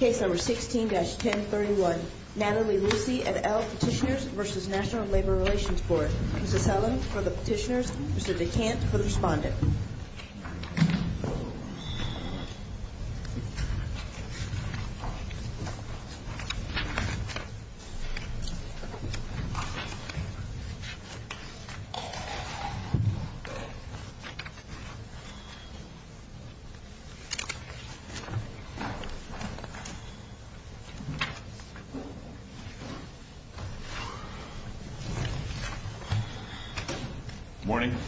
Case number 16-1031, Natalie Ruisi et al. Petitioners v. National Labor Relations Board. Mrs. Helen for the petitioners, Mr. DeCant for the respondent.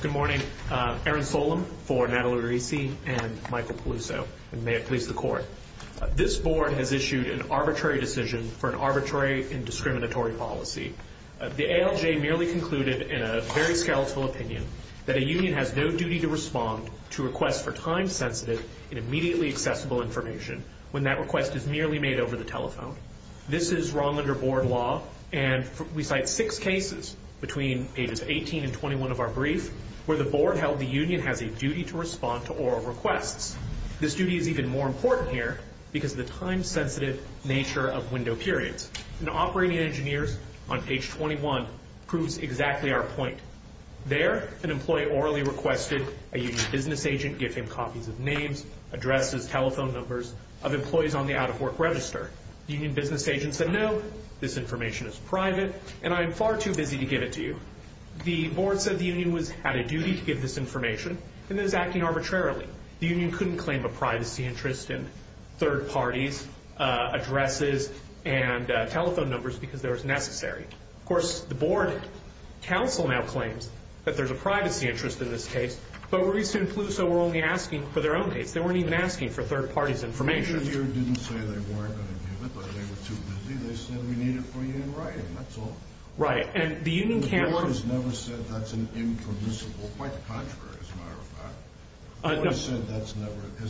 Good morning. Erin Solem for Natalie Ruisi and Michael Peluso. May it please the Court. This board has issued an arbitrary decision for an arbitrary and discriminatory policy. The ALJ merely concluded in a very skeletal opinion that a union has no duty to respond to requests for time-sensitive and immediately accessible information when that request is merely made over the telephone. This is wrong under board law, and we cite six cases between pages 18 and 21 of our brief where the board held the union has a duty to respond to oral requests. This duty is even more important here because of the time-sensitive nature of window periods. And Operating Engineers on page 21 proves exactly our point. There, an employee orally requested a union business agent give him copies of names, addresses, telephone numbers of employees on the out-of-work register. The union business agent said, no, this information is private, and I am far too busy to give it to you. The board said the union had a duty to give this information, and it was acting arbitrarily. The union couldn't claim a privacy interest in third parties' addresses and telephone numbers because they were necessary. Of course, the board counsel now claims that there's a privacy interest in this case, but Maurice and Peluso were only asking for their own dates. They weren't even asking for third parties' information. The union didn't say they weren't going to give it, but they were too busy. They said, we need it for you in writing, that's all. Right, and the union can't. The board has never said that's an impermissible. Quite the contrary, as a matter of fact. The board has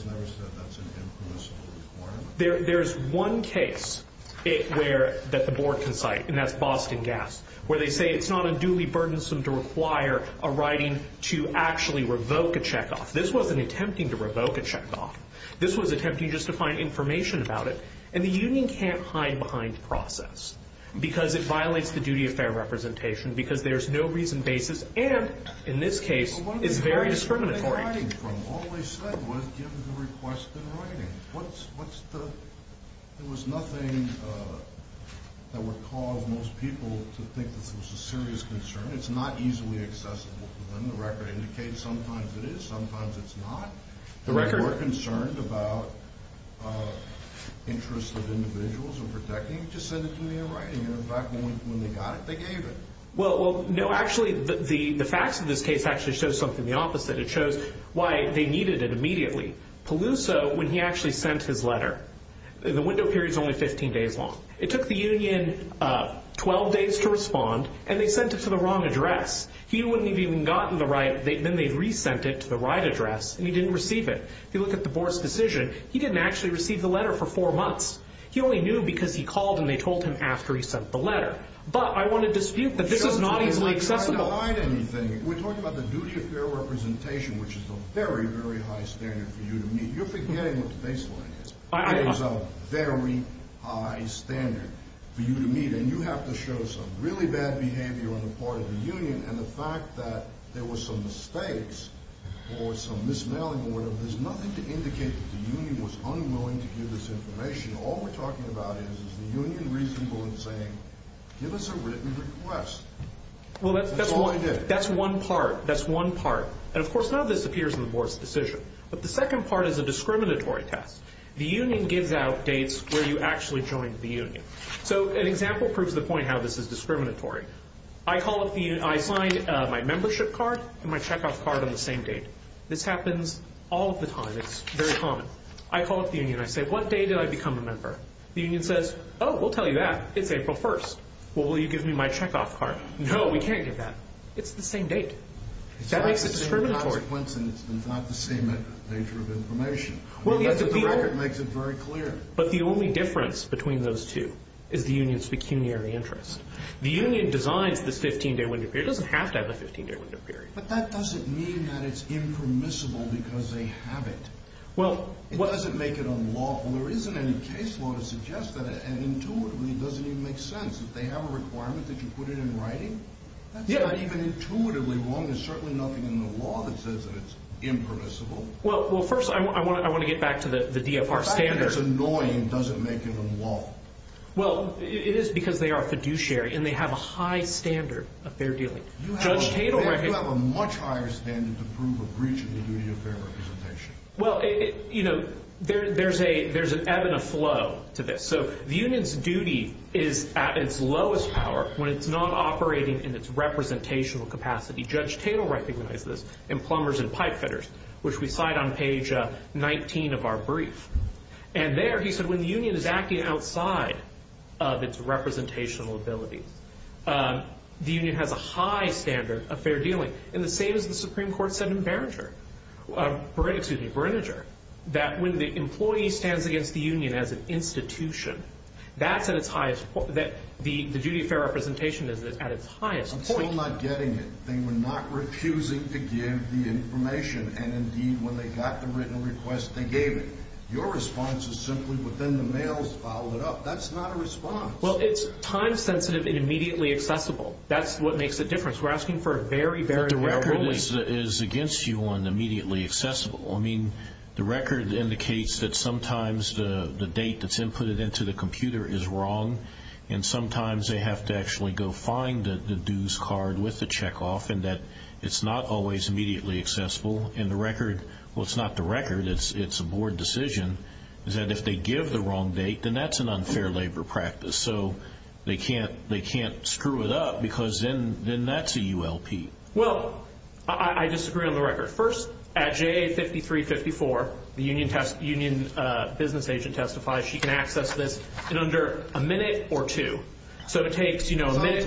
never said that's an impermissible requirement. There's one case that the board can cite, and that's Boston Gas, where they say it's not unduly burdensome to require a writing to actually revoke a checkoff. This wasn't attempting to revoke a checkoff. This was attempting just to find information about it. And the union can't hide behind the process because it violates the duty of fair representation because there's no reason basis and, in this case, is very discriminatory. All they said was give the request in writing. There was nothing that would cause most people to think this was a serious concern. It's not easily accessible to them. The record indicates sometimes it is, sometimes it's not. The record? If they were concerned about interests of individuals or protecting, just send it to me in writing. And, in fact, when they got it, they gave it. Well, no, actually, the facts of this case actually show something the opposite. It shows why they needed it immediately. Peluso, when he actually sent his letter, the window period is only 15 days long. It took the union 12 days to respond, and they sent it to the wrong address. He wouldn't have even gotten the right. Then they re-sent it to the right address, and he didn't receive it. If you look at the board's decision, he didn't actually receive the letter for four months. He only knew because he called and they told him after he sent the letter. But I want to dispute that this is not easily accessible. We're not denying anything. We're talking about the duty of fair representation, which is a very, very high standard for you to meet. You're forgetting what the baseline is. It is a very high standard for you to meet, and you have to show some really bad behavior on the part of the union. And the fact that there were some mistakes or some mis-mailing or whatever, there's nothing to indicate that the union was unwilling to give this information. All we're talking about is the union recently saying, give us a written request. Well, that's one part. That's one part. And, of course, none of this appears in the board's decision. But the second part is a discriminatory test. The union gives out dates where you actually joined the union. So an example proves the point how this is discriminatory. I call up the union. I sign my membership card and my checkoff card on the same date. This happens all of the time. It's very common. I call up the union. I say, what day did I become a member? The union says, oh, we'll tell you that. It's April 1st. Well, will you give me my checkoff card? No, we can't give that. It's the same date. That makes it discriminatory. It's not the same consequence and it's not the same nature of information. That's what the record makes it very clear. But the only difference between those two is the union's pecuniary interest. The union designs this 15-day window period. It doesn't have to have a 15-day window period. But that doesn't mean that it's impermissible because they have it. It doesn't make it unlawful. Well, there isn't any case law to suggest that. And intuitively, it doesn't even make sense. If they have a requirement that you put it in writing, that's not even intuitively wrong. There's certainly nothing in the law that says that it's impermissible. Well, first I want to get back to the DFR standard. The fact that it's annoying doesn't make it unlawful. Well, it is because they are fiduciary and they have a high standard of fair dealing. You have a much higher standard to prove a breach of the duty of fair representation. Well, you know, there's an ebb and a flow to this. So the union's duty is at its lowest power when it's not operating in its representational capacity. Judge Tatel recognized this in Plumbers and Pipefitters, which we cite on page 19 of our brief. And there he said when the union is acting outside of its representational abilities, the union has a high standard of fair dealing. And the same as the Supreme Court said in Berninger that when the employee stands against the union as an institution, that's at its highest point. The duty of fair representation is at its highest point. I'm still not getting it. They were not refusing to give the information. And, indeed, when they got the written request, they gave it. Your response is simply within the mails followed up. That's not a response. Well, it's time-sensitive and immediately accessible. That's what makes a difference. We're asking for a very, very thorough release. But the record is against you on immediately accessible. I mean, the record indicates that sometimes the date that's inputted into the computer is wrong, and sometimes they have to actually go find the dues card with the checkoff and that it's not always immediately accessible. And the record, well, it's not the record, it's a board decision, is that if they give the wrong date, then that's an unfair labor practice. So they can't screw it up because then that's a ULP. Well, I disagree on the record. First, at JA 5354, the union business agent testifies she can access this in under a minute or two. So it takes, you know, a minute.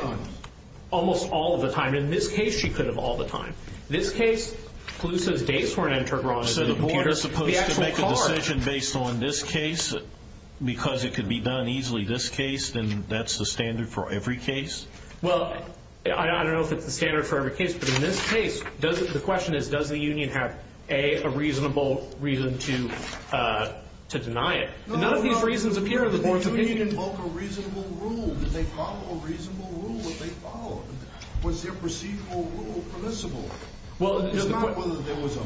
Almost all of the time. In this case, she could have all the time. This case, clue says dates weren't entered wrong. So the board is supposed to make a decision based on this case because it could be done easily. If it's going to be this case, then that's the standard for every case. Well, I don't know if it's the standard for every case. But in this case, the question is, does the union have, A, a reasonable reason to deny it? None of these reasons appear in the board's opinion. No, no, no. The union invoked a reasonable rule. Did they follow a reasonable rule that they followed? Was their procedural rule permissible? It's not whether there was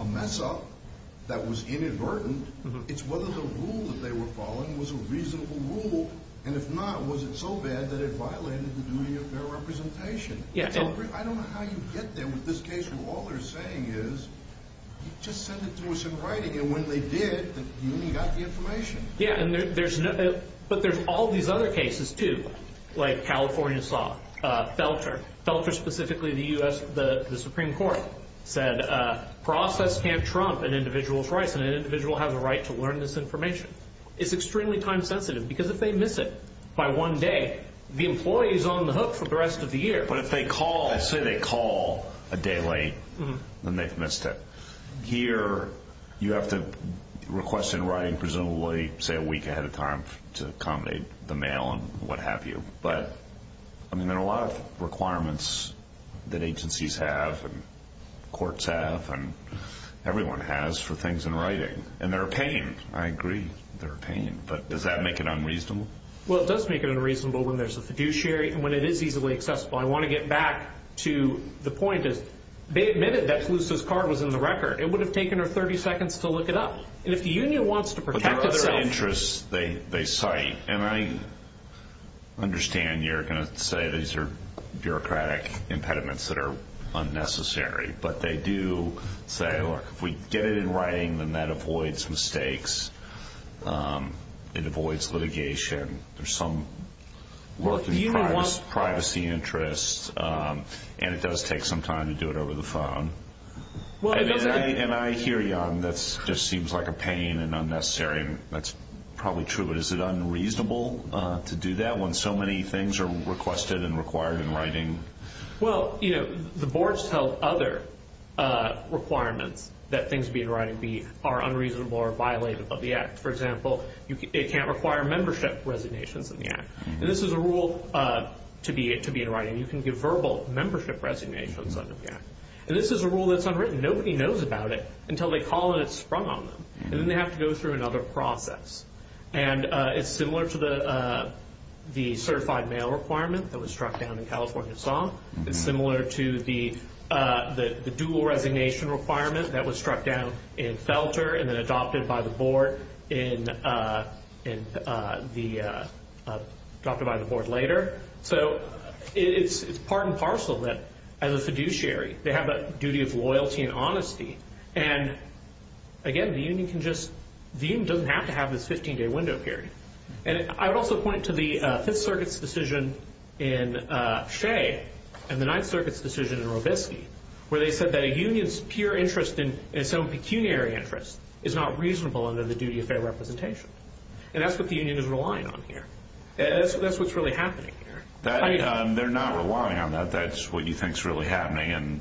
a mess-up that was inadvertent. It's whether the rule that they were following was a reasonable rule. And if not, was it so bad that it violated the duty of fair representation? I don't know how you get there with this case when all they're saying is, just send it to us in writing. And when they did, the union got the information. Yeah, but there's all these other cases, too, like California saw. Felter, specifically the Supreme Court, said process can't trump an individual's rights. And an individual has a right to learn this information. It's extremely time-sensitive because if they miss it by one day, the employee is on the hook for the rest of the year. But if they call, let's say they call a day late, then they've missed it. Here, you have to request in writing presumably, say, a week ahead of time to accommodate the mail and what have you. But, I mean, there are a lot of requirements that agencies have and courts have and everyone has for things in writing. And they're a pain. I agree they're a pain. But does that make it unreasonable? Well, it does make it unreasonable when there's a fiduciary and when it is easily accessible. I want to get back to the point. If they admitted that Palouse's card was in the record, it would have taken her 30 seconds to look it up. And if the union wants to protect itself. But there are other interests they cite. And I understand you're going to say these are bureaucratic impediments that are unnecessary. But they do say, look, if we get it in writing, then that avoids mistakes. It avoids litigation. There's some work in privacy interests. And it does take some time to do it over the phone. And I hear you on that just seems like a pain and unnecessary. That's probably true. But is it unreasonable to do that when so many things are requested and required in writing? Well, you know, the boards tell other requirements that things be in writing are unreasonable or violate the act. For example, it can't require membership resignations in the act. And this is a rule to be in writing. You can give verbal membership resignations under the act. And this is a rule that's unwritten. Nobody knows about it until they call and it's sprung on them. And then they have to go through another process. And it's similar to the certified mail requirement that was struck down in California Song. It's similar to the dual resignation requirement that was struck down in Felter and then adopted by the board later. So it's part and parcel that as a fiduciary they have a duty of loyalty and honesty. And, again, the union doesn't have to have this 15-day window period. And I would also point to the Fifth Circuit's decision in Shea and the Ninth Circuit's decision in Robeskey where they said that a union's pure interest in its own pecuniary interest is not reasonable under the duty of fair representation. And that's what the union is relying on here. That's what's really happening here. They're not relying on that. That's what you think is really happening. And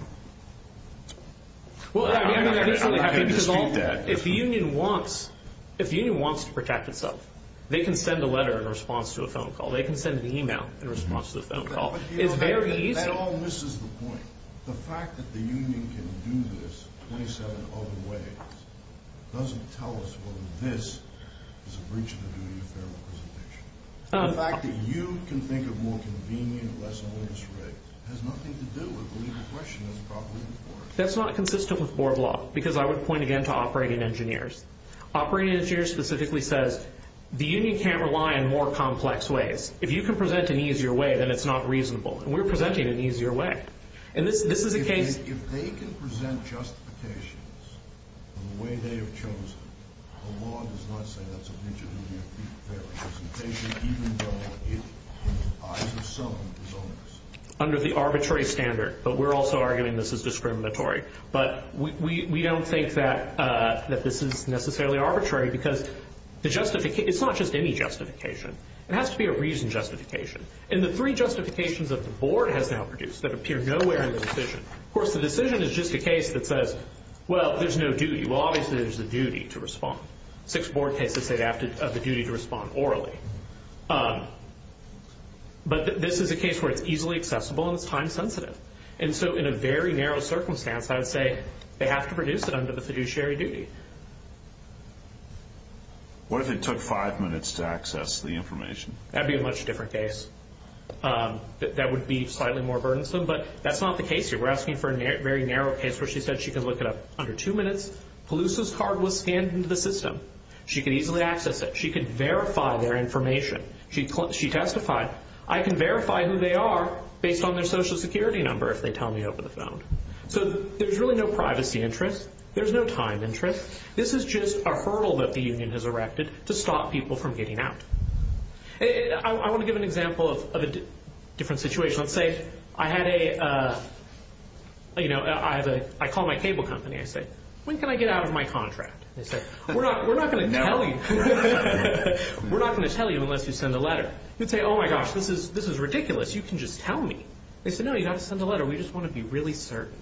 I'm not going to dispute that. If the union wants to protect itself, they can send a letter in response to a phone call. They can send an email in response to a phone call. It's very easy. That all misses the point. The fact that the union can do this 27 other ways doesn't tell us whether this is a breach of the duty of fair representation. The fact that you can think of more convenient or less onerous rates has nothing to do with whether the question is properly reported. That's not consistent with board law, because I would point again to operating engineers. Operating engineers specifically says the union can't rely on more complex ways. If you can present an easier way, then it's not reasonable. And we're presenting an easier way. If they can present justifications in the way they have chosen, the law does not say that's a breach of the duty of fair representation, even though it, in the eyes of some, is onerous. Under the arbitrary standard, but we're also arguing this is discriminatory. But we don't think that this is necessarily arbitrary, because it's not just any justification. It has to be a reasoned justification. And the three justifications that the board has now produced that appear nowhere in the decision. Of course, the decision is just a case that says, well, there's no duty. Well, obviously, there's a duty to respond. Six board cases say they have the duty to respond orally. But this is a case where it's easily accessible and it's time-sensitive. And so in a very narrow circumstance, I would say they have to produce it under the fiduciary duty. What if it took five minutes to access the information? That would be a much different case. That would be slightly more burdensome. But that's not the case here. We're asking for a very narrow case where she said she could look it up under two minutes. Pelusa's card was scanned into the system. She could easily access it. She could verify their information. She testified, I can verify who they are based on their Social Security number if they tell me over the phone. So there's really no privacy interest. There's no time interest. This is just a hurdle that the union has erected to stop people from getting out. I want to give an example of a different situation. Let's say I call my cable company. I say, when can I get out of my contract? They say, we're not going to tell you. We're not going to tell you unless you send a letter. You'd say, oh, my gosh, this is ridiculous. You can just tell me. They say, no, you don't have to send a letter. We just want to be really certain.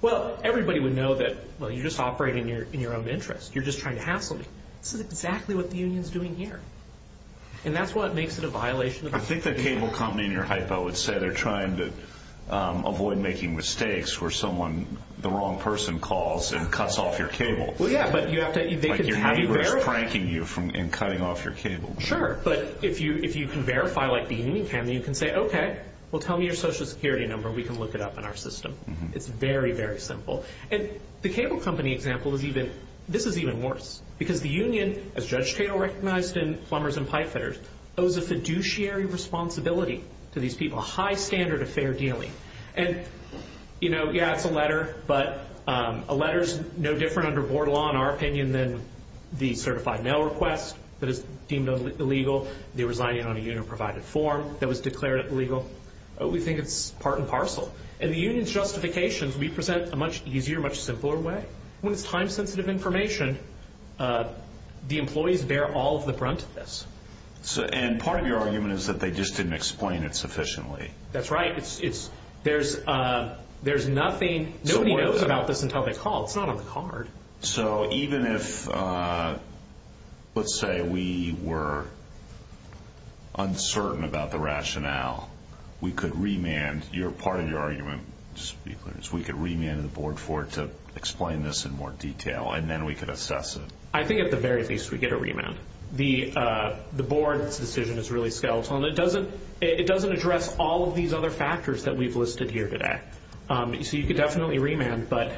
Well, everybody would know that, well, you're just operating in your own interest. You're just trying to hassle me. This is exactly what the union is doing here. And that's what makes it a violation. I think the cable company in your hypo would say they're trying to avoid making mistakes where someone, the wrong person, calls and cuts off your cable. Like your neighbor is pranking you and cutting off your cable. Sure. But if you can verify like the union can, then you can say, okay, well, tell me your Social Security number and we can look it up in our system. It's very, very simple. And the cable company example is even worse because the union, as Judge Cato recognized in Plumbers and Pipefitters, owes a fiduciary responsibility to these people, a high standard of fair dealing. And, you know, yeah, it's a letter, but a letter is no different under board law in our opinion than the certified mail request that is deemed illegal, the resigning on a union-provided form that was declared illegal. We think it's part and parcel. In the union's justifications, we present a much easier, much simpler way. When it's time-sensitive information, the employees bear all of the brunt of this. And part of your argument is that they just didn't explain it sufficiently. That's right. There's nothing. Nobody knows about this until they call. It's not on the card. So even if, let's say, we were uncertain about the rationale, we could remand. And part of your argument, just to be clear, is we could remand the board for it to explain this in more detail, and then we could assess it. I think at the very least we get a remand. The board's decision is really skeletal, and it doesn't address all of these other factors that we've listed here today. So you could definitely remand, but,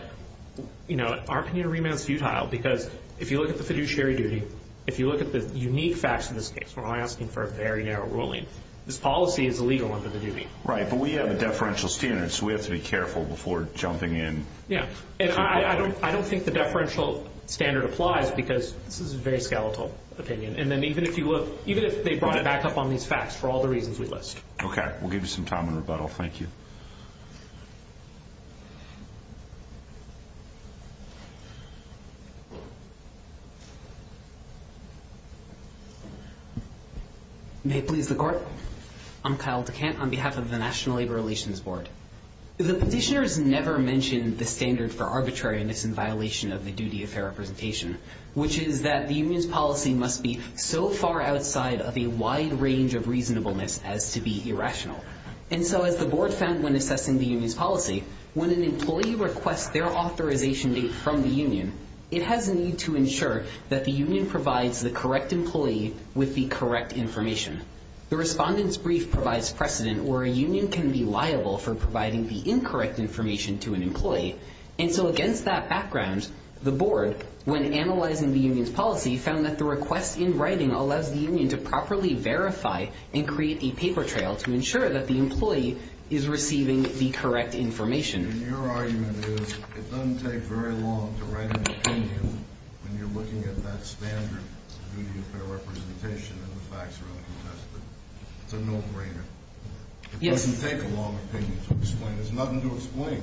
you know, our opinion of remand is futile because if you look at the fiduciary duty, if you look at the unique facts in this case, we're only asking for a very narrow ruling, this policy is illegal under the duty. Right. But we have a deferential standard, so we have to be careful before jumping in. Yeah. And I don't think the deferential standard applies because this is a very skeletal opinion. And then even if they brought it back up on these facts for all the reasons we list. Okay. We'll give you some time in rebuttal. Thank you. May it please the Court. I'm Kyle DeCant on behalf of the National Labor Relations Board. The petitioners never mentioned the standard for arbitrariness in violation of the duty of fair representation, which is that the union's policy must be so far outside of a wide range of reasonableness as to be irrational. And so as the board found when assessing the union's policy, when an employee requests their authorization date from the union, it has a need to ensure that the union provides the correct employee with the correct information. The respondent's brief provides precedent where a union can be liable for providing the incorrect information to an employee. And so against that background, the board, when analyzing the union's policy, found that the request in writing allows the union to properly verify and create a paper trail to ensure that the employee is receiving the correct information. And your argument is it doesn't take very long to write an opinion when you're looking at that standard of duty of fair representation and the facts are uncontested. It's a no-brainer. It doesn't take a long opinion to explain. There's nothing to explain.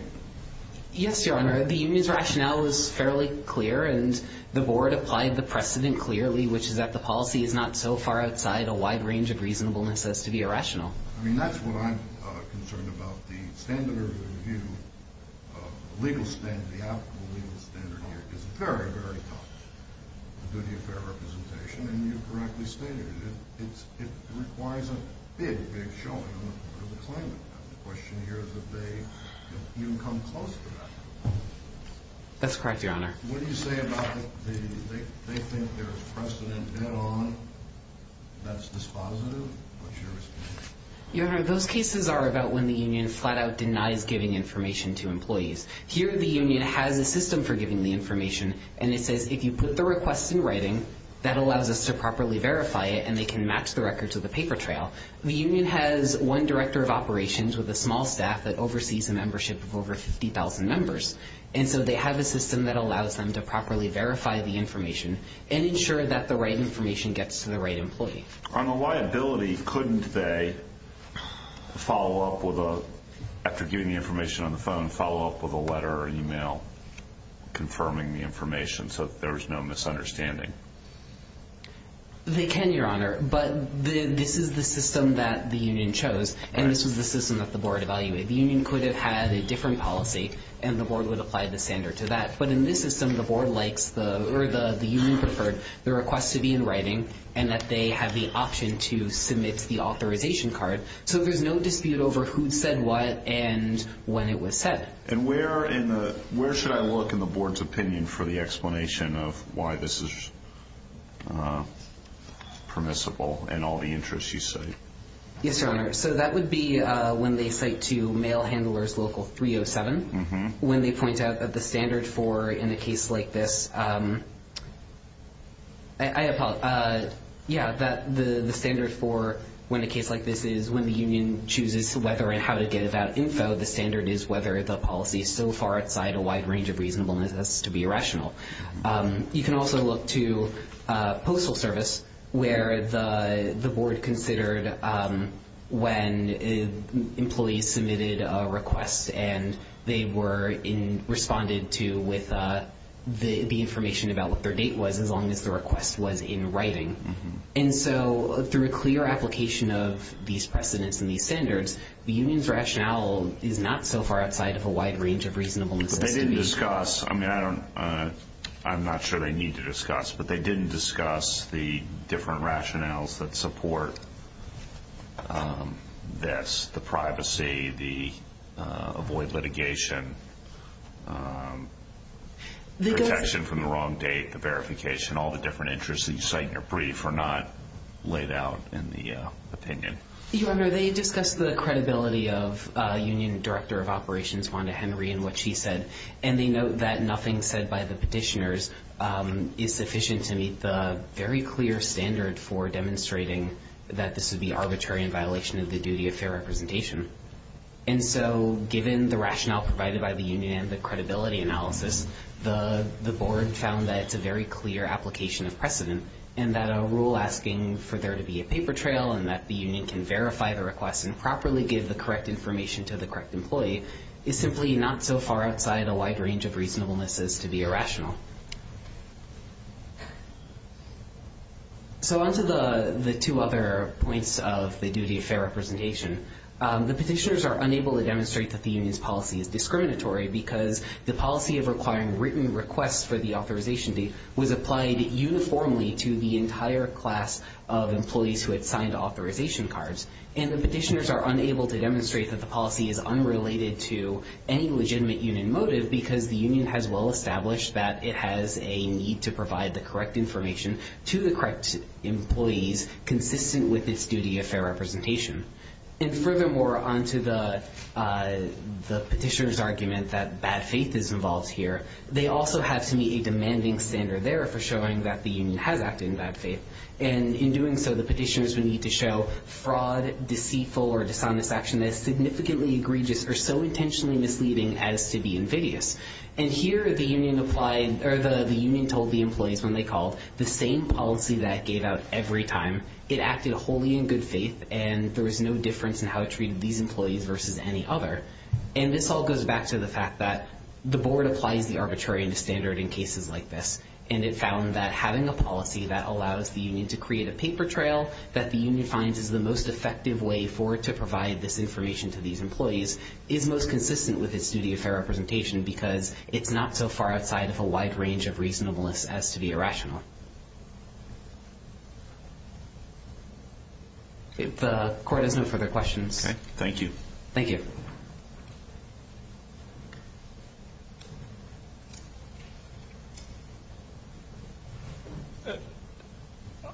Yes, Your Honor. The union's rationale is fairly clear, and the board applied the precedent clearly, which is that the policy is not so far outside a wide range of reasonableness as to be irrational. I mean, that's what I'm concerned about. But the standard of review, the legal standard, the applicable legal standard here is very, very tough. The duty of fair representation, and you correctly stated it, it requires a big, big showing on the part of the claimant. The question here is that they, you know, you can come close to that. That's correct, Your Honor. What do you say about the, they think there's precedent head-on, that's dispositive? What's your response? Your Honor, those cases are about when the union flat-out denies giving information to employees. Here the union has a system for giving the information, and it says if you put the request in writing, that allows us to properly verify it, and they can match the records with the paper trail. The union has one director of operations with a small staff that oversees a membership of over 50,000 members, and so they have a system that allows them to properly verify the information and ensure that the right information gets to the right employee. On the liability, couldn't they follow up with a, after giving the information on the phone, follow up with a letter or email confirming the information so that there was no misunderstanding? They can, Your Honor. But this is the system that the union chose, and this was the system that the board evaluated. The union could have had a different policy, and the board would apply the standard to that. But in this system, the board likes the, or the union preferred, the request to be in writing, and that they have the option to submit the authorization card. So there's no dispute over who said what and when it was said. And where in the, where should I look in the board's opinion for the explanation of why this is permissible in all the interests you cite? Yes, Your Honor. So that would be when they cite to mail handlers local 307, when they point out that the standard for, in a case like this, I apologize. Yeah, the standard for when a case like this is, when the union chooses whether and how to get that info, the standard is whether the policy is so far outside a wide range of reasonableness as to be rational. You can also look to postal service, where the board considered when employees submitted a request and they were in, responded to with the information about what their date was, as long as the request was in writing. And so through a clear application of these precedents and these standards, the union's rationale is not so far outside of a wide range of reasonableness. They didn't discuss, I mean, I don't, I'm not sure they need to discuss, but they didn't discuss the different rationales that support this, the privacy, the avoid litigation, protection from the wrong date, the verification, all the different interests that you cite in your brief are not laid out in the opinion. Your Honor, they discussed the credibility of Union Director of Operations, Wanda Henry, and what she said, and they note that nothing said by the petitioners is sufficient to meet the very clear standard for demonstrating that this would be arbitrary in representation. And so given the rationale provided by the union and the credibility analysis, the board found that it's a very clear application of precedent and that a rule asking for there to be a paper trail and that the union can verify the request and properly give the correct information to the correct employee is simply not so far outside a wide range of reasonableness as to be irrational. So onto the, the two other points of the duty of fair representation, the petitioners are unable to demonstrate that the union's policy is discriminatory because the policy of requiring written requests for the authorization date was applied uniformly to the entire class of employees who had signed authorization cards. And the petitioners are unable to demonstrate that the policy is unrelated to any legitimate union motive because the union has well established that if necessary, it has a need to provide the correct information to the correct employees consistent with its duty of fair representation. And furthermore, onto the petitioner's argument that bad faith is involved here, they also have to meet a demanding standard there for showing that the union has acted in bad faith. And in doing so the petitioners would need to show fraud, deceitful, or dishonest action that is significantly egregious or so intentionally misleading as to be invidious. And here the union applied or the, the union told the employees when they called the same policy that gave out every time it acted wholly in good faith and there was no difference in how it treated these employees versus any other. And this all goes back to the fact that the board applies the arbitrary standard in cases like this. And it found that having a policy that allows the union to create a paper trail that the union finds is the most effective way for it to provide this information to these employees is most consistent with its duty of fair representation because it's not so far outside of a wide range of reasonableness as to be irrational. If the court has no further questions. Thank you. Thank you.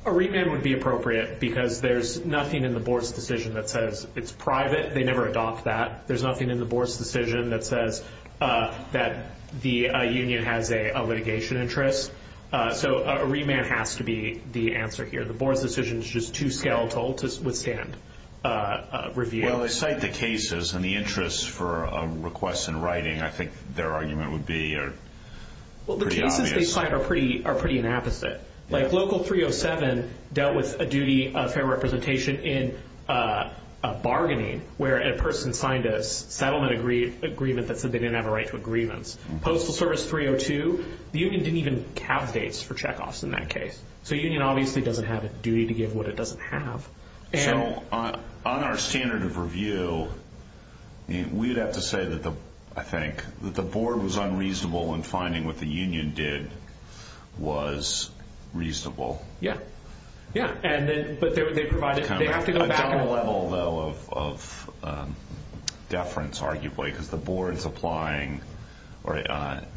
A remand would be appropriate because there's nothing in the board's decision that says it's private. They never adopt that. There's nothing in the board's decision that says that the union has a litigation interest. So a remand has to be the answer here. The board's decision is just too skeletal to withstand review. Well, they cite the cases and the interest for a request in writing, I think their argument would be pretty obvious. Well, the cases they cite are pretty inapposite. Like Local 307 dealt with a duty of fair representation in a bargaining where a person signed a settlement agreement that said they didn't have a right to a grievance. Postal Service 302, the union didn't even have dates for check-offs in that case. So a union obviously doesn't have a duty to give what it doesn't have. So on our standard of review, we'd have to say, I think, that the board was unreasonable in finding what the union did was reasonable. Yeah. A double level, though, of deference, arguably, because the board is applying or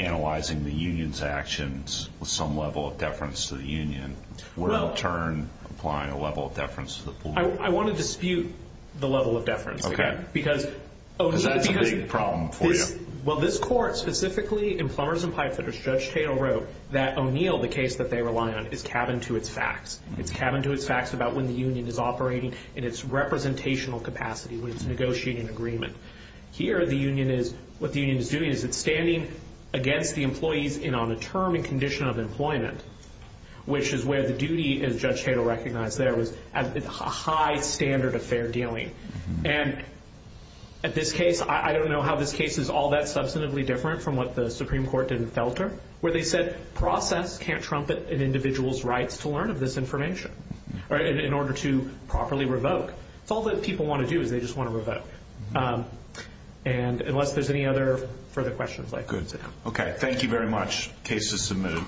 analyzing the union's actions with some level of deference to the union. We're, in turn, applying a level of deference to the board. I want to dispute the level of deference again. Because that's a big problem for you. Well, this court, specifically in Plumbers and Pipefitters, that O'Neill, the case that they rely on, is cabin to its facts. It's cabin to its facts about when the union is operating in its representational capacity, when it's negotiating an agreement. Here, what the union is doing is it's standing against the employees on a term and condition of employment, which is where the duty, as Judge Tatel recognized there, was a high standard of fair dealing. And at this case, I don't know how this case is all that substantively different from what the Supreme Court did in Felter, where they said process can't trumpet an individual's rights to learn of this information in order to properly revoke. It's all that people want to do is they just want to revoke. And unless there's any other further questions, I could say no. Okay. Thank you very much. Case is submitted.